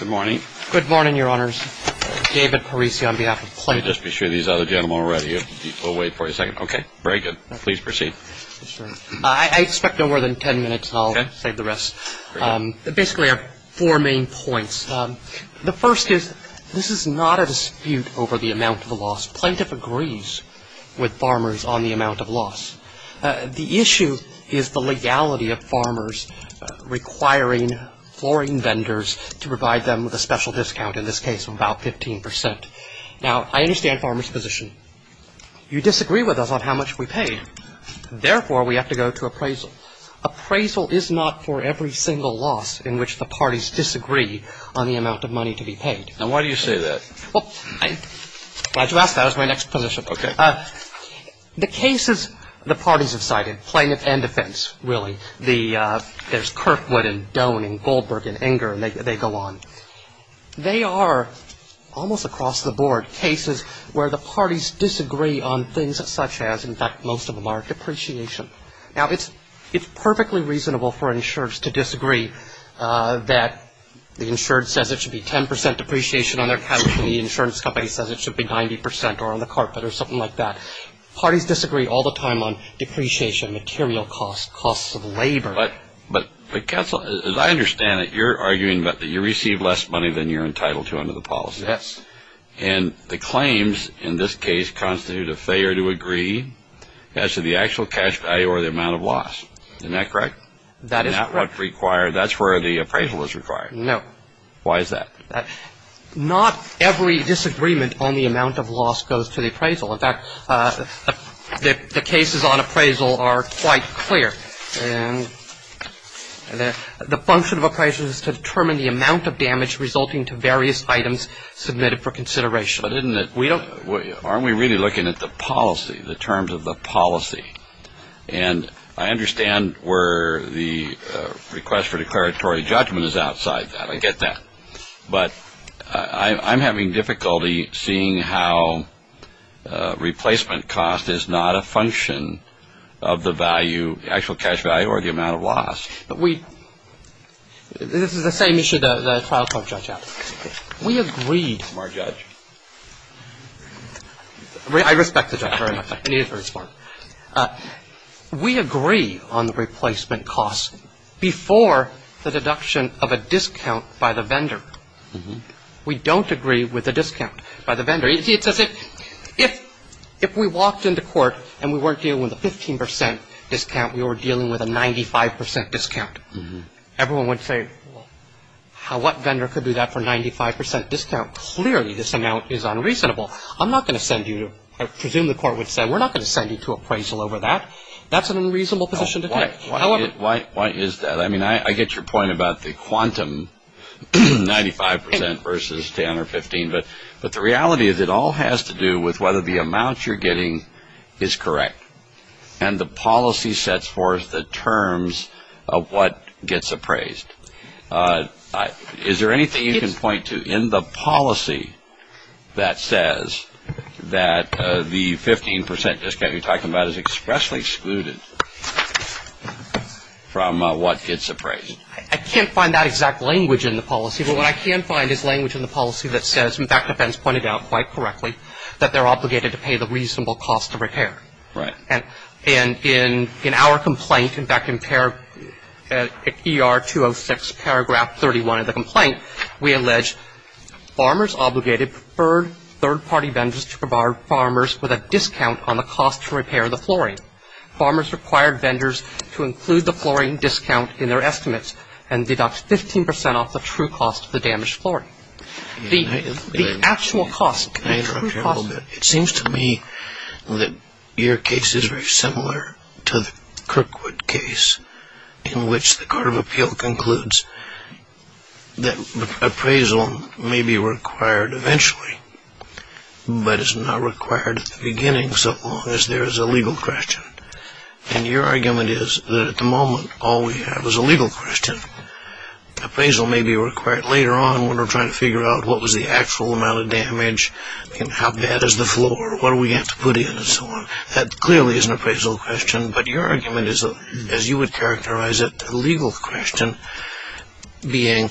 Good morning. Good morning, Your Honors. David Parisi on behalf of Plaintiff. Let me just be sure these other gentlemen are ready. We'll wait for a second. Okay. Very good. Please proceed. I expect no more than 10 minutes, and I'll save the rest. Basically, I have four main points. The first is this is not a dispute over the amount of the loss. Plaintiff agrees with farmers on the amount of loss. The issue is the legality of farmers requiring flooring vendors to provide them with a special discount, in this case, of about 15 percent. Now, I understand farmers' position. You disagree with us on how much we pay. Therefore, we have to go to appraisal. Appraisal is not for every single loss in which the parties disagree on the amount of money to be paid. Now, why do you say that? Well, I'm glad you asked that. That was my next position. Okay. The cases the parties have cited, plaintiff and defense, really, there's Kirkwood and Doan and Goldberg and Enger, and they go on. They are almost across the board cases where the parties disagree on things such as, in fact, most of them are depreciation. Now, it's perfectly reasonable for insurers to disagree that the insured says it should be 10 percent depreciation on their cash, and the insurance company says it should be 90 percent or on the carpet or something like that. Parties disagree all the time on depreciation, material costs, costs of labor. But, counsel, as I understand it, you're arguing that you receive less money than you're entitled to under the policy. Yes. And the claims in this case constitute a failure to agree as to the actual cash value or the amount of loss. Isn't that correct? That is correct. That's where the appraisal is required. No. Why is that? Not every disagreement on the amount of loss goes to the appraisal. In fact, the cases on appraisal are quite clear. The function of appraisal is to determine the amount of damage resulting to various items submitted for consideration. But aren't we really looking at the policy, the terms of the policy? And I understand where the request for declaratory judgment is outside that. I get that. But I'm having difficulty seeing how replacement cost is not a function of the value, the actual cash value or the amount of loss. This is the same issue the trial court judge asked. We agreed. Smart judge. I respect the judge very much. I needed it for this forum. We agree on the replacement cost before the deduction of a discount by the vendor. We don't agree with a discount by the vendor. It's as if if we walked into court and we weren't dealing with a 15 percent discount, we were dealing with a 95 percent discount. Everyone would say, well, what vendor could do that for a 95 percent discount? Clearly this amount is unreasonable. I'm not going to send you to, I presume the court would say, we're not going to send you to appraisal over that. That's an unreasonable position to take. Why is that? I mean, I get your point about the quantum 95 percent versus 10 or 15. But the reality is it all has to do with whether the amount you're getting is correct. And the policy sets forth the terms of what gets appraised. Is there anything you can point to in the policy that says that the 15 percent discount you're talking about is expressly excluded from what gets appraised? I can't find that exact language in the policy. But what I can find is language in the policy that says, in fact, that Ben's pointed out quite correctly, that they're obligated to pay the reasonable cost of repair. Right. And in our complaint, in fact, in ER 206, paragraph 31 of the complaint, we allege farmers obligated preferred third-party vendors to provide farmers with a discount on the cost to repair the flooring. Farmers required vendors to include the flooring discount in their estimates and deduct 15 percent off the true cost of the damaged flooring. The actual cost. Can I interrupt you a little bit? It seems to me that your case is very similar to the Kirkwood case, in which the Court of Appeal concludes that appraisal may be required eventually, but is not required at the beginning so long as there is a legal question. And your argument is that at the moment, all we have is a legal question. Appraisal may be required later on when we're trying to figure out what was the actual amount of damage and how bad is the floor, what do we have to put in, and so on. That clearly is an appraisal question, but your argument is, as you would characterize it, a legal question being,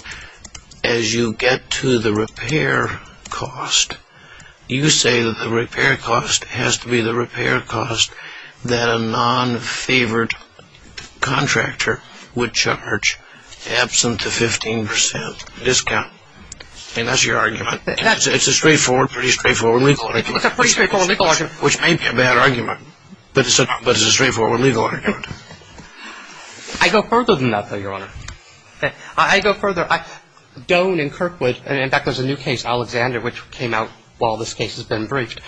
as you get to the repair cost, you say that the repair cost has to be the repair cost that a non-favored contractor would charge, absent the 15 percent discount. And that's your argument. It's a straightforward, pretty straightforward legal argument. It's a pretty straightforward legal argument. Which may be a bad argument, but it's a straightforward legal argument. I go further than that, though, Your Honor. I go further. Doan and Kirkwood, and in fact, there's a new case, Alexander, which came out while this case has been briefed.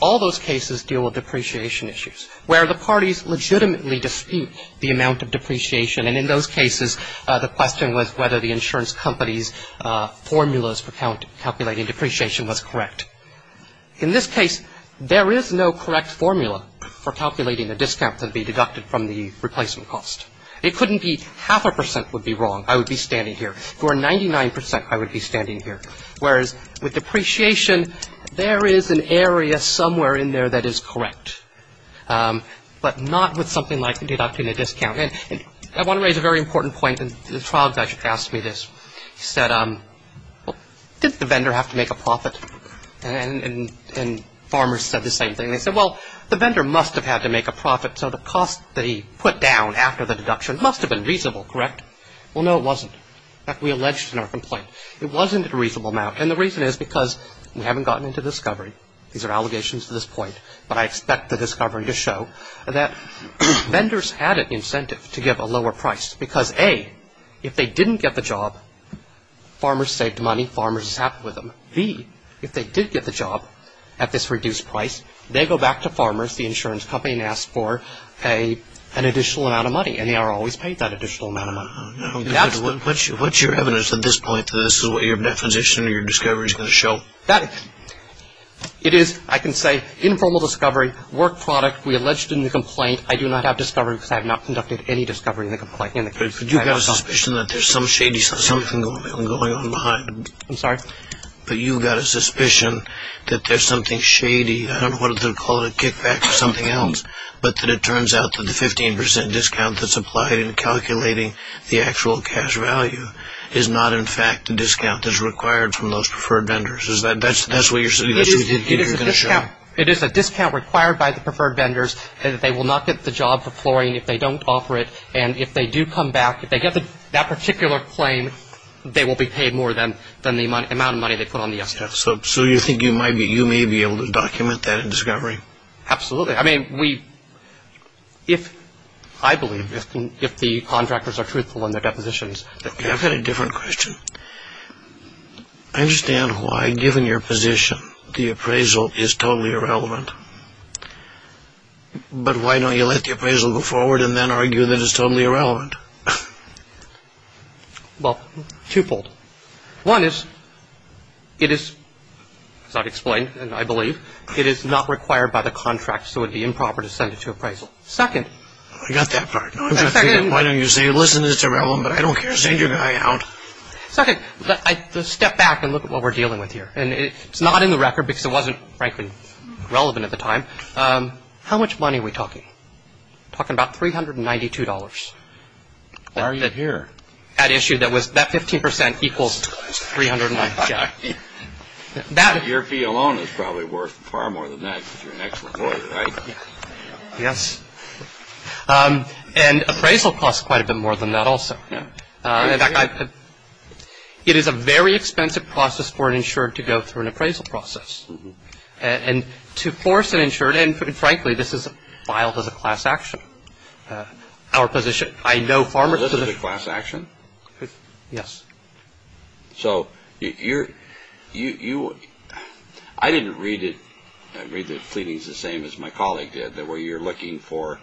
All those cases deal with depreciation issues, where the parties legitimately dispute the amount of depreciation. And in those cases, the question was whether the insurance company's formulas for calculating depreciation was correct. In this case, there is no correct formula for calculating the discount that would be deducted from the replacement cost. It couldn't be half a percent would be wrong. I would be standing here. If it were 99 percent, I would be standing here. Whereas with depreciation, there is an area somewhere in there that is correct, but not with something like deducting a discount. And I want to raise a very important point. And the trial judge asked me this. He said, well, didn't the vendor have to make a profit? And farmers said the same thing. They said, well, the vendor must have had to make a profit, so the cost that he put down after the deduction must have been reasonable, correct? Well, no, it wasn't. In fact, we alleged in our complaint. It wasn't a reasonable amount. And the reason is because we haven't gotten into discovery. These are allegations to this point. But I expect the discovery to show that vendors had an incentive to give a lower price because, A, if they didn't get the job, farmers saved money. Farmers sat with them. B, if they did get the job at this reduced price, they go back to farmers, the insurance company, and ask for an additional amount of money, and they are always paid that additional amount of money. What's your evidence at this point that this is what your definition or your discovery is going to show? It is, I can say, informal discovery, work product. We alleged in the complaint. I do not have discovery because I have not conducted any discovery in the case. But you've got a suspicion that there's some shady something going on behind it. I'm sorry? But you've got a suspicion that there's something shady. I don't know whether to call it a kickback or something else, but that it turns out that the 15% discount that's applied in calculating the actual cash value is not, in fact, the discount that's required from those preferred vendors. That's what you're going to show? It is a discount required by the preferred vendors. They will not get the job for flooring if they don't offer it. And if they do come back, if they get that particular claim, they will be paid more than the amount of money they put on the estimate. So you think you may be able to document that in discovery? Absolutely. I mean, we – if – I believe if the contractors are truthful in their depositions. I've got a different question. I understand why, given your position, the appraisal is totally irrelevant. But why don't you let the appraisal go forward and then argue that it's totally irrelevant? Well, twofold. One is, it is – it's not explained, I believe. It is not required by the contract, so it would be improper to send it to appraisal. Second – I got that part. Why don't you say, listen, it's irrelevant, but I don't care, send your guy out. Second, let's step back and look at what we're dealing with here. And it's not in the record because it wasn't, frankly, relevant at the time. How much money are we talking? We're talking about $392. Why are you here? That issue that was – that 15% equals $392. Your fee alone is probably worth far more than that because you're an excellent lawyer, right? Yes. And appraisal costs quite a bit more than that also. In fact, it is a very expensive process for an insured to go through an appraisal process. And to force an insured – and, frankly, this is filed as a class action. Our position – I know farmers – This is a class action? Yes. So you're – I didn't read it. I read the pleadings the same as my colleague did, that where you're looking for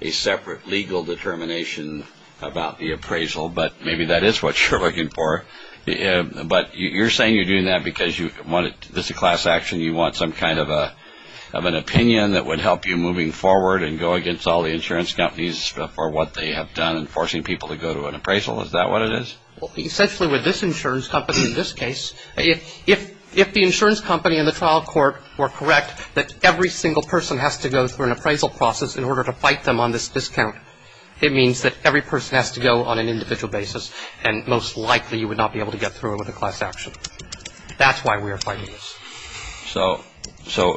a separate legal determination about the appraisal, but maybe that is what you're looking for. But you're saying you're doing that because you want it – this is a class action. You want some kind of an opinion that would help you moving forward and go against all the insurance companies for what they have done and forcing people to go to an appraisal. Is that what it is? Essentially, with this insurance company in this case, if the insurance company and the trial court were correct that every single person has to go through an appraisal process in order to fight them on this discount, it means that every person has to go on an individual basis and most likely you would not be able to get through it with a class action. That's why we are fighting this. So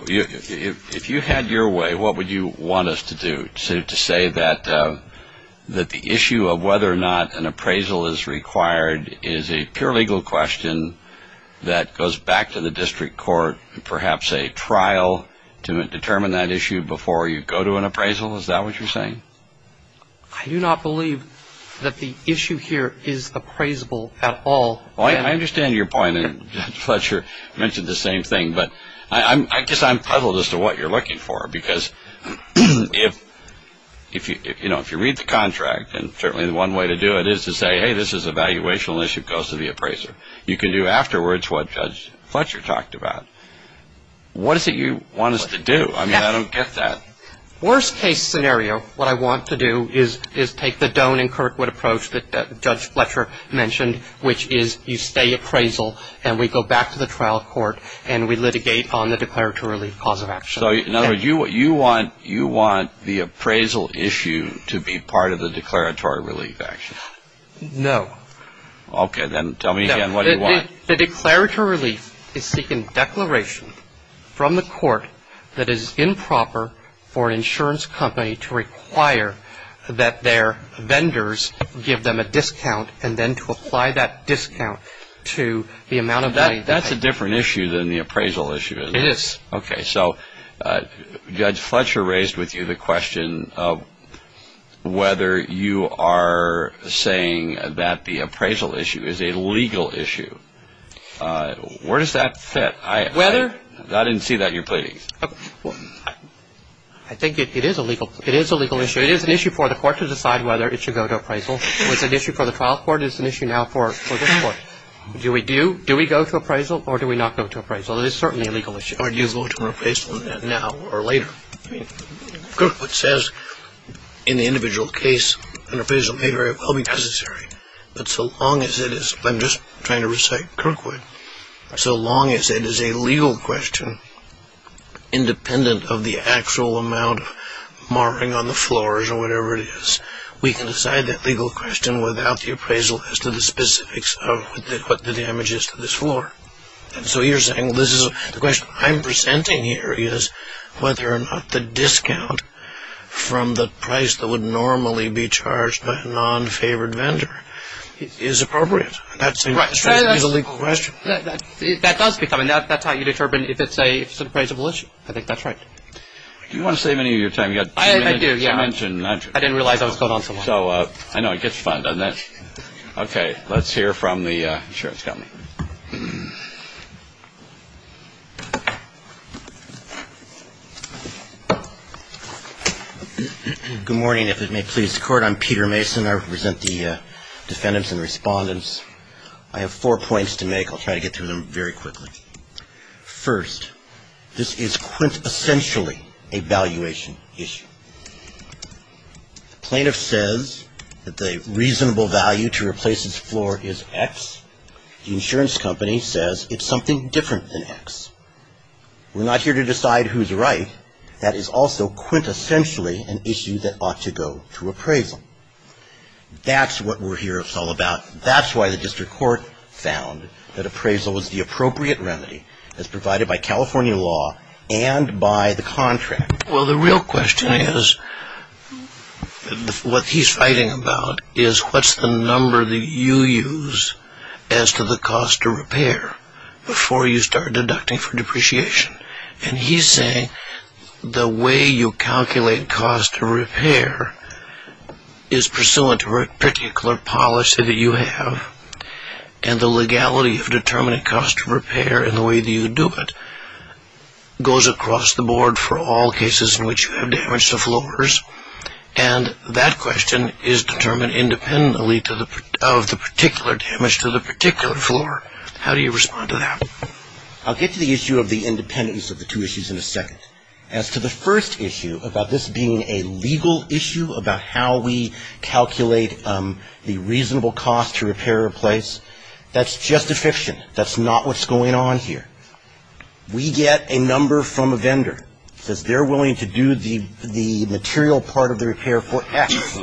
if you had your way, what would you want us to do? To say that the issue of whether or not an appraisal is required is a pure legal question that goes back to the district court, perhaps a trial to determine that issue before you go to an appraisal? Is that what you're saying? I do not believe that the issue here is appraisable at all. I understand your point, and Judge Fletcher mentioned the same thing, but I guess I'm puzzled as to what you're looking for because if you read the contract and certainly one way to do it is to say, hey, this is a valuational issue, it goes to the appraiser. You can do afterwards what Judge Fletcher talked about. What is it you want us to do? I mean, I don't get that. Worst case scenario, what I want to do is take the Doan and Kirkwood approach that Judge Fletcher mentioned, which is you stay appraisal and we go back to the trial court and we litigate on the declaratory cause of action. So in other words, you want the appraisal issue to be part of the declaratory relief action? No. Okay. Then tell me again what you want. The declaratory relief is seeking declaration from the court that is improper for an insurance company to require that their vendors give them a discount and then to apply that discount to the amount of money they pay. That's a different issue than the appraisal issue, isn't it? It is. Okay. So Judge Fletcher raised with you the question of whether you are saying that the appraisal issue is a legal issue. Where does that fit? Whether? I didn't see that in your pleading. I think it is a legal issue. It is an issue for the court to decide whether it should go to appraisal. It's an issue for the trial court. It's an issue now for this court. Do we go to appraisal or do we not go to appraisal? Well, it is certainly a legal issue. Or do you go to an appraisal now or later? Kirkwood says in the individual case an appraisal may very well be necessary. But so long as it is, I'm just trying to recite Kirkwood, so long as it is a legal question independent of the actual amount of marring on the floors or whatever it is, we can decide that legal question without the appraisal as to the specifics of what the damage is to this floor. So you're saying the question I'm presenting here is whether or not the discount from the price that would normally be charged by a non-favored vendor is appropriate. That seems to be the legal question. That does become. That's how you determine if it's an appraisal issue. I think that's right. Do you want to save any of your time? I do. I didn't realize I was going on so long. I know. It gets fun. Okay. Let's hear from the insurance company. Good morning. If it may please the Court, I'm Peter Mason. I represent the defendants and respondents. I have four points to make. I'll try to get through them very quickly. First, this is quintessentially a valuation issue. The plaintiff says that the reasonable value to replace this floor is X. The insurance company says it's something different than X. We're not here to decide who's right. That is also quintessentially an issue that ought to go to appraisal. That's what we're here all about. That's why the district court found that appraisal was the appropriate remedy as provided by California law and by the contract. Well, the real question is, what he's fighting about, is what's the number that you use as to the cost of repair before you start deducting for depreciation. And he's saying the way you calculate cost of repair is pursuant to a particular policy that you have. And the legality of determining cost of repair and the way that you do it goes across the board for all cases in which you have damage to floors. And that question is determined independently of the particular damage to the particular floor. How do you respond to that? I'll get to the issue of the independence of the two issues in a second. As to the first issue about this being a legal issue about how we calculate the reasonable cost to repair or replace, that's just a fiction. That's not what's going on here. We get a number from a vendor that says they're willing to do the material part of the repair for X.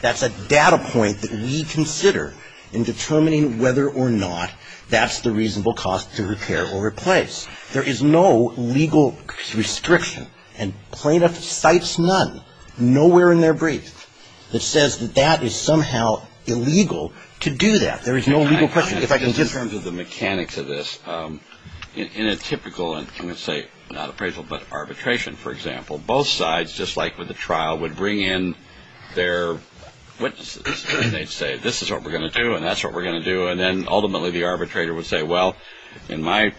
That's a data point that we consider in determining whether or not that's the reasonable cost to repair or replace. There is no legal restriction. And plaintiff cites none, nowhere in their brief, that says that that is somehow illegal to do that. There is no legal question. In terms of the mechanics of this, in a typical, I'm going to say, not appraisal, but arbitration, for example, both sides, just like with a trial, would bring in their witnesses. And they'd say, this is what we're going to do and that's what we're going to do. And then, ultimately, the arbitrator would say, well, in my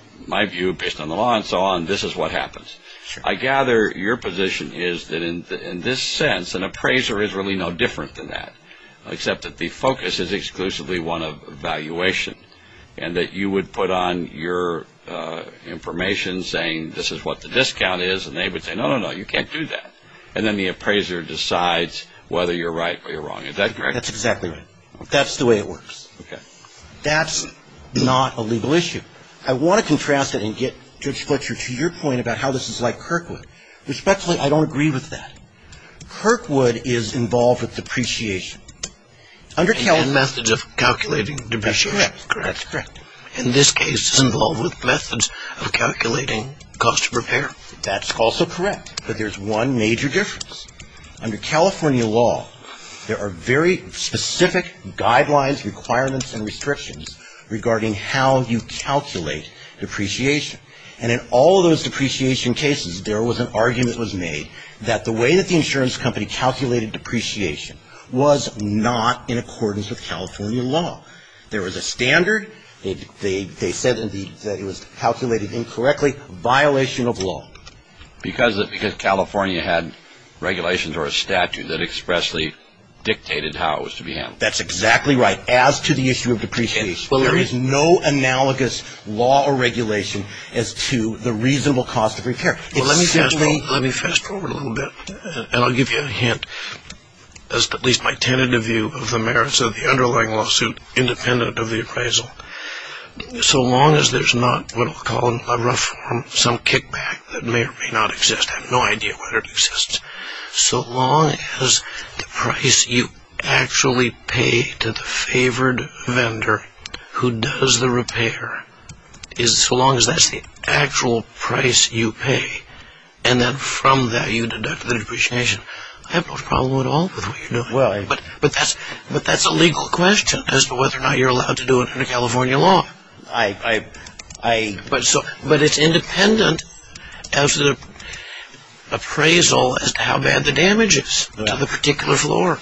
view, based on the law and so on, this is what happens. I gather your position is that, in this sense, an appraiser is really no different than that, except that the focus is exclusively one of valuation and that you would put on your information saying, this is what the discount is and they would say, no, no, no, you can't do that. And then the appraiser decides whether you're right or you're wrong. Is that correct? That's exactly right. That's the way it works. Okay. That's not a legal issue. I want to contrast it and get, Judge Fletcher, to your point about how this is like Kirkwood. Respectfully, I don't agree with that. Kirkwood is involved with depreciation. And methods of calculating depreciation. That's correct. In this case, it's involved with methods of calculating cost of repair. That's also correct. But there's one major difference. Under California law, there are very specific guidelines, requirements, and restrictions regarding how you calculate depreciation. And in all of those depreciation cases, there was an argument that was made that the way that the insurance company calculated depreciation was not in accordance with California law. There was a standard. They said that it was calculated incorrectly, a violation of law. Because California had regulations or a statute that expressly dictated how it was to be handled. That's exactly right. As to the issue of depreciation, there is no analogous law or regulation as to the reasonable cost of repair. Let me fast-forward a little bit, and I'll give you a hint. That's at least my tentative view of the merits of the underlying lawsuit independent of the appraisal. So long as there's not what I'll call in a rough form some kickback that may or may not exist, I have no idea whether it exists, so long as the price you actually pay to the favored vendor who does the repair is so long as that's the actual price you pay, and then from that you deduct the depreciation, But that's a legal question as to whether or not you're allowed to do it under California law. But it's independent as to the appraisal as to how bad the damage is on the particular floor.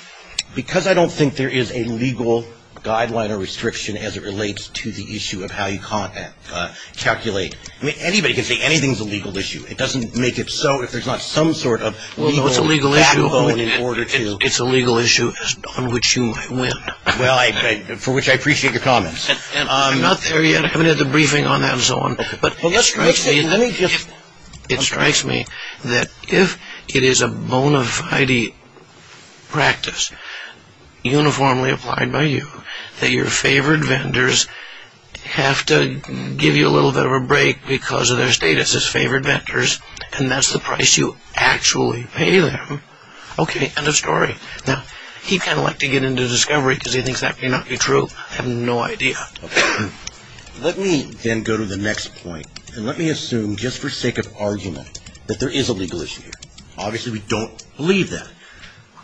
Because I don't think there is a legal guideline or restriction as it relates to the issue of how you calculate. Anybody can say anything's a legal issue. It doesn't make it so if there's not some sort of legal backbone in order to... It's a legal issue on which you might win. Well, for which I appreciate your comments. I'm not there yet. I haven't had the briefing on that and so on. But it strikes me that if it is a bona fide practice uniformly applied by you, that your favored vendors have to give you a little bit of a break because of their status as favored vendors, and that's the price you actually pay them. Okay. End of story. Now, he'd kind of like to get into discovery because he thinks that cannot be true. I have no idea. Let me then go to the next point. And let me assume just for sake of argument that there is a legal issue here. Obviously, we don't believe that.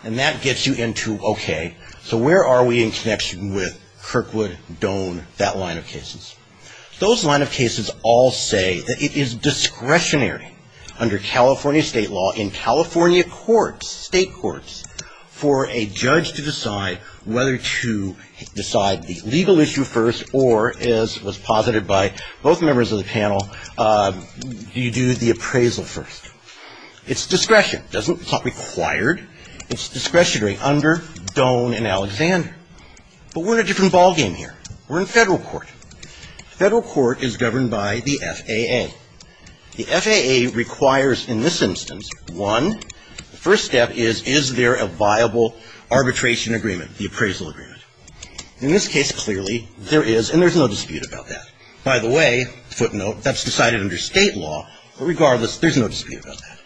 And that gets you into, okay, so where are we in connection with Kirkwood, Doan, that line of cases? Those line of cases all say that it is discretionary under California state law in California courts, state courts, for a judge to decide whether to decide the legal issue first or, as was posited by both members of the panel, you do the appraisal first. It's discretion. It's not required. It's discretionary under Doan and Alexander. But we're in a different ballgame here. We're in federal court. Federal court is governed by the FAA. The FAA requires in this instance, one, the first step is, is there a viable arbitration agreement, the appraisal agreement. In this case, clearly, there is, and there's no dispute about that. By the way, footnote, that's decided under state law, but regardless, there's no dispute about that.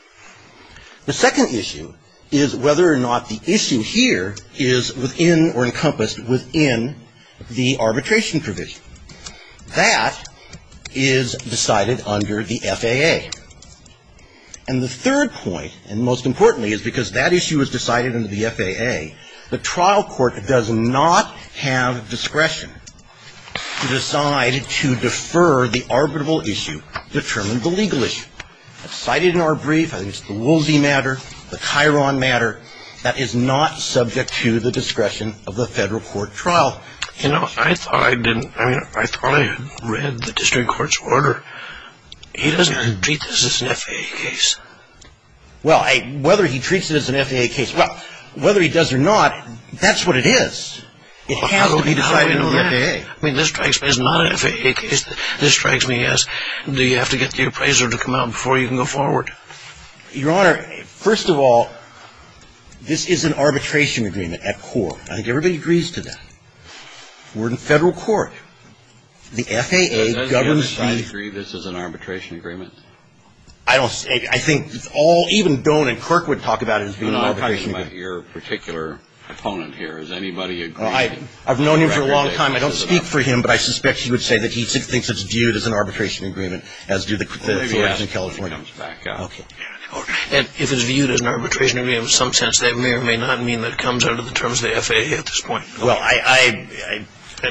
The second issue is whether or not the issue here is within or encompassed within the arbitration provision. That is decided under the FAA. And the third point, and most importantly, is because that issue is decided under the FAA, the trial court does not have discretion to decide to defer the arbitrable issue, determine the legal issue. Cited in our brief, I think it's the Woolsey matter, the Chiron matter, that is not subject to the discretion of the federal court trial. You know, I thought I didn't, I mean, I thought I read the district court's order. He doesn't treat this as an FAA case. Well, whether he treats it as an FAA case, well, whether he does or not, that's what it is. It has to be decided under the FAA. I mean, this strikes me as not an FAA case. This strikes me as, do you have to get the appraiser to come out before you can go forward? Your Honor, first of all, this is an arbitration agreement at court. I think everybody agrees to that. We're in federal court. The FAA governs the ---- Does the FAA agree this is an arbitration agreement? I don't, I think it's all, even Doan and Kirk would talk about it as being an arbitration agreement. Your particular opponent here, does anybody agree? I've known him for a long time. I don't speak for him, but I suspect he would say that he thinks it's viewed as an arbitration agreement, as do the authorities in California. Okay. And if it's viewed as an arbitration agreement in some sense, that may or may not mean that it comes under the terms of the FAA at this point. Well,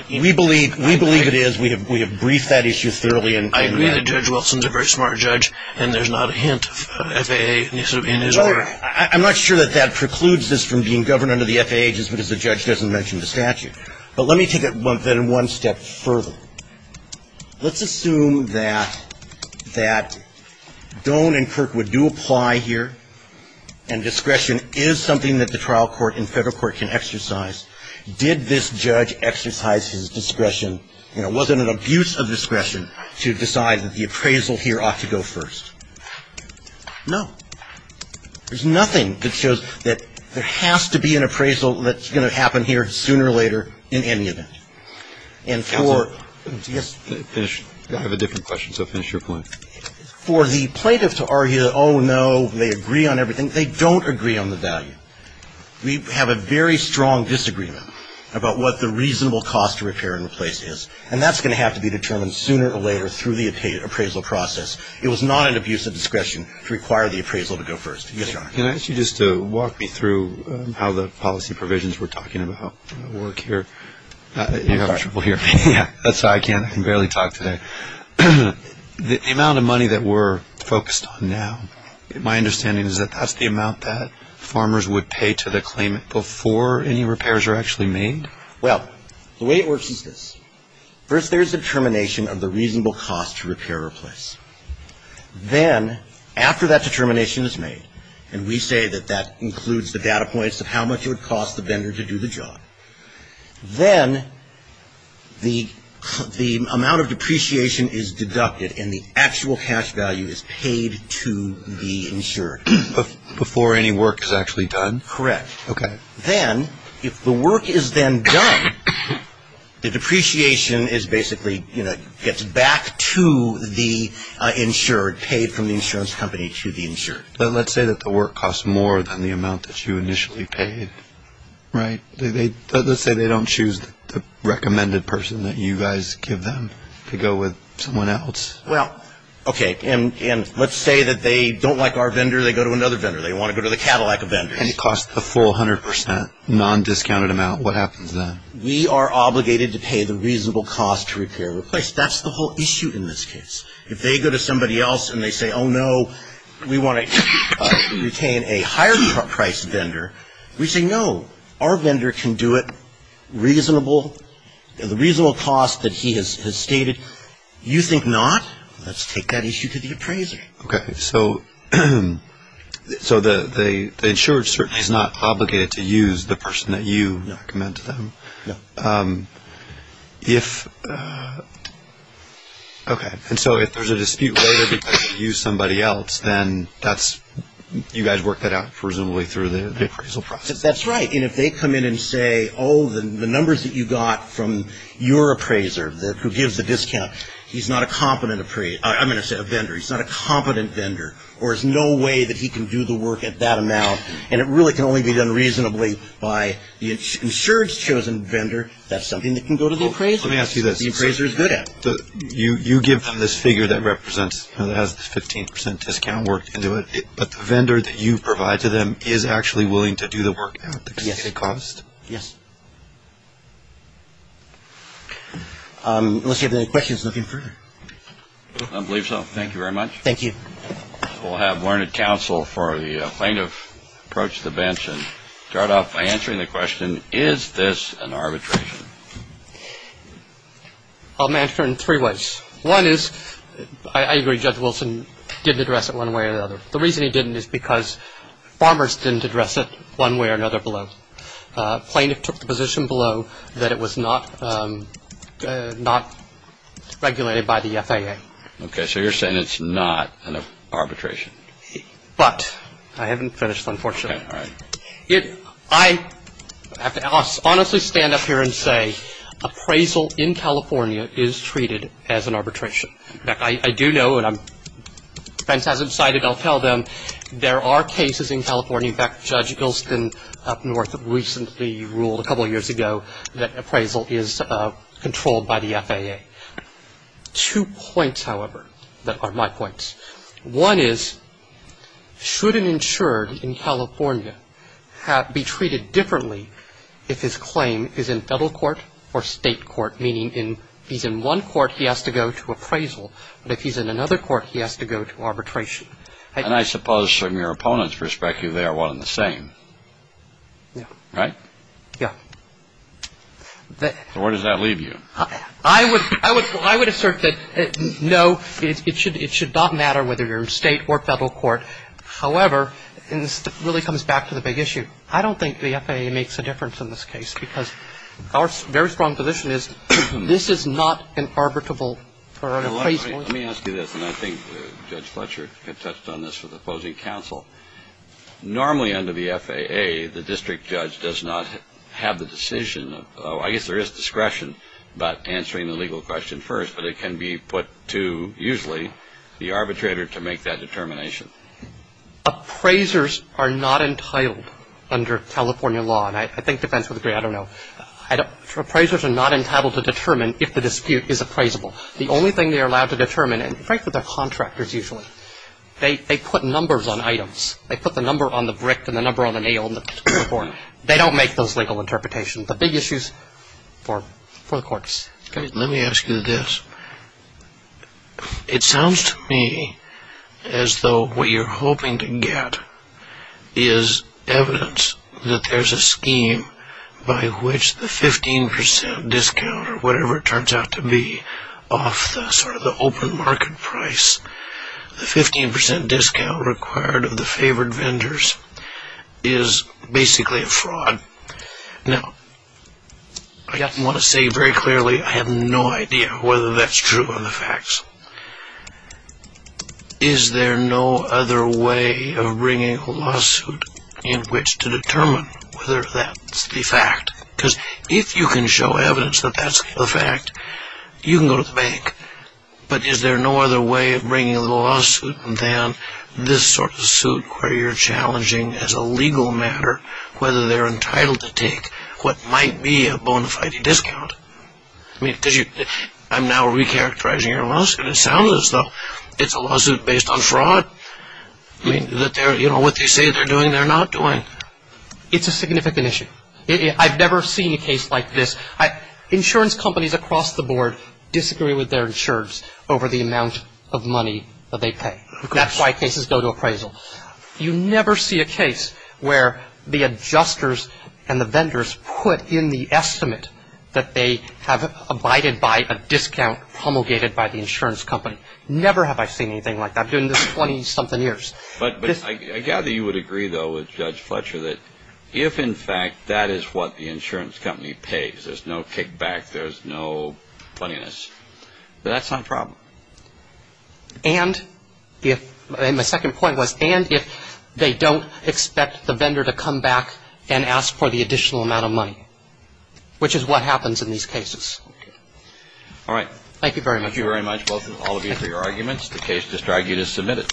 we believe it is. We have briefed that issue thoroughly. I agree that Judge Wilson is a very smart judge, and there's not a hint of FAA in his order. I'm not sure that that precludes this from being governed under the FAA, just because the judge doesn't mention the statute. But let me take it then one step further. Let's assume that Doan and Kirk would do apply here, and discretion is something that the trial court and federal court can exercise. Did this judge exercise his discretion? You know, was it an abuse of discretion to decide that the appraisal here ought to go first? No. There's nothing that shows that there has to be an appraisal that's going to happen here sooner or later in any event. And for the plaintiff to argue, oh, no, they agree on everything, they don't agree on the value. We have a very strong disagreement about what the reasonable cost of repair and replace is, and that's going to have to be determined sooner or later through the appraisal process. It was not an abuse of discretion to require the appraisal to go first. Yes, Your Honor. Can I ask you just to walk me through how the policy provisions we're talking about work here? I'm sorry. Yeah, that's why I can barely talk today. The amount of money that we're focused on now, my understanding is that that's the amount that farmers would pay to the claimant before any repairs are actually made? Well, the way it works is this. First, there's a determination of the reasonable cost to repair or replace. Then, after that determination is made, and we say that that includes the data points of how much it would cost the vendor to do the job, then the amount of depreciation is deducted and the actual cash value is paid to the insured. Before any work is actually done? Correct. Okay. Then, if the work is then done, the depreciation is basically, you know, gets back to the insured, paid from the insurance company to the insured. But let's say that the work costs more than the amount that you initially paid, right? Let's say they don't choose the recommended person that you guys give them to go with someone else. Well, okay, and let's say that they don't like our vendor, they go to another vendor. And it costs the full 100% non-discounted amount. What happens then? We are obligated to pay the reasonable cost to repair or replace. That's the whole issue in this case. If they go to somebody else and they say, oh, no, we want to retain a higher-priced vendor, we say, no, our vendor can do it reasonable. The reasonable cost that he has stated, you think not? Let's take that issue to the appraiser. Okay, so the insured certainly is not obligated to use the person that you recommend to them. No. If – okay, and so if there's a dispute later because you use somebody else, then that's – you guys work that out presumably through the appraisal process. That's right. And if they come in and say, oh, the numbers that you got from your appraiser who gives the discount, he's not a competent – I'm going to say a vendor, he's not a competent vendor, or there's no way that he can do the work at that amount, and it really can only be done reasonably by the insured's chosen vendor, that's something that can go to the appraiser. Let me ask you this. The appraiser is good at it. You give them this figure that represents – that has the 15% discount work into it, but the vendor that you provide to them is actually willing to do the work at the cost? Yes. Unless you have any questions looking further. I believe so. Thank you very much. Thank you. We'll have Learned Counsel for the plaintiff approach the bench and start off by answering the question, is this an arbitration? I'll answer it in three ways. One is, I agree Judge Wilson didn't address it one way or another. The reason he didn't is because farmers didn't address it one way or another below. The plaintiff took the position below that it was not regulated by the FAA. Okay. So you're saying it's not an arbitration. But I haven't finished, unfortunately. Okay. All right. I have to honestly stand up here and say appraisal in California is treated as an arbitration. In fact, I do know, and Vince hasn't decided, I'll tell them there are cases in California, in fact, Judge Wilson up north recently ruled a couple years ago that appraisal is controlled by the FAA. Two points, however, that are my points. One is, should an insured in California be treated differently if his claim is in federal court or state court, meaning he's in one court, he has to go to appraisal. But if he's in another court, he has to go to arbitration. And I suppose from your opponent's perspective, they are one and the same. Yeah. Right? Yeah. So where does that leave you? I would assert that, no, it should not matter whether you're in state or federal court. However, and this really comes back to the big issue, I don't think the FAA makes a difference in this case because our very strong position is, this is not an arbitrable appraisal. Let me ask you this, and I think Judge Fletcher touched on this with opposing counsel. Normally under the FAA, the district judge does not have the decision of, I guess there is discretion about answering the legal question first, but it can be put to usually the arbitrator to make that determination. Appraisers are not entitled under California law, and I think defense would agree, I don't know. Appraisers are not entitled to determine if the dispute is appraisable. The only thing they are allowed to determine, and frankly, they're contractors usually, they put numbers on items. They put the number on the brick and the number on the nail and so forth. They don't make those legal interpretations. The big issue is for the courts. Let me ask you this. It sounds to me as though what you're hoping to get is evidence that there's a scheme by which the 15% discount or whatever it turns out to be off the sort of the open market price. The 15% discount required of the favored vendors is basically a fraud. Now, I want to say very clearly I have no idea whether that's true or the facts. Is there no other way of bringing a lawsuit in which to determine whether that's the fact? Because if you can show evidence that that's the fact, you can go to the bank. But is there no other way of bringing a lawsuit than this sort of suit where you're challenging as a legal matter whether they're entitled to take what might be a bona fide discount? I mean, I'm now recharacterizing your lawsuit. It sounds as though it's a lawsuit based on fraud. I mean, what they say they're doing, they're not doing. It's a significant issue. I've never seen a case like this. Insurance companies across the board disagree with their insurers over the amount of money that they pay. That's why cases go to appraisal. You never see a case where the adjusters and the vendors put in the estimate that they have abided by a discount promulgated by the insurance company. Never have I seen anything like that during this 20-something years. But I gather you would agree, though, with Judge Fletcher that if, in fact, that is what the insurance company pays, there's no kickback, there's no funniness, that's not a problem. And my second point was, and if they don't expect the vendor to come back and ask for the additional amount of money, which is what happens in these cases. All right. Thank you very much. Thank you very much, both of you, for your arguments. The case just drags you to submit it.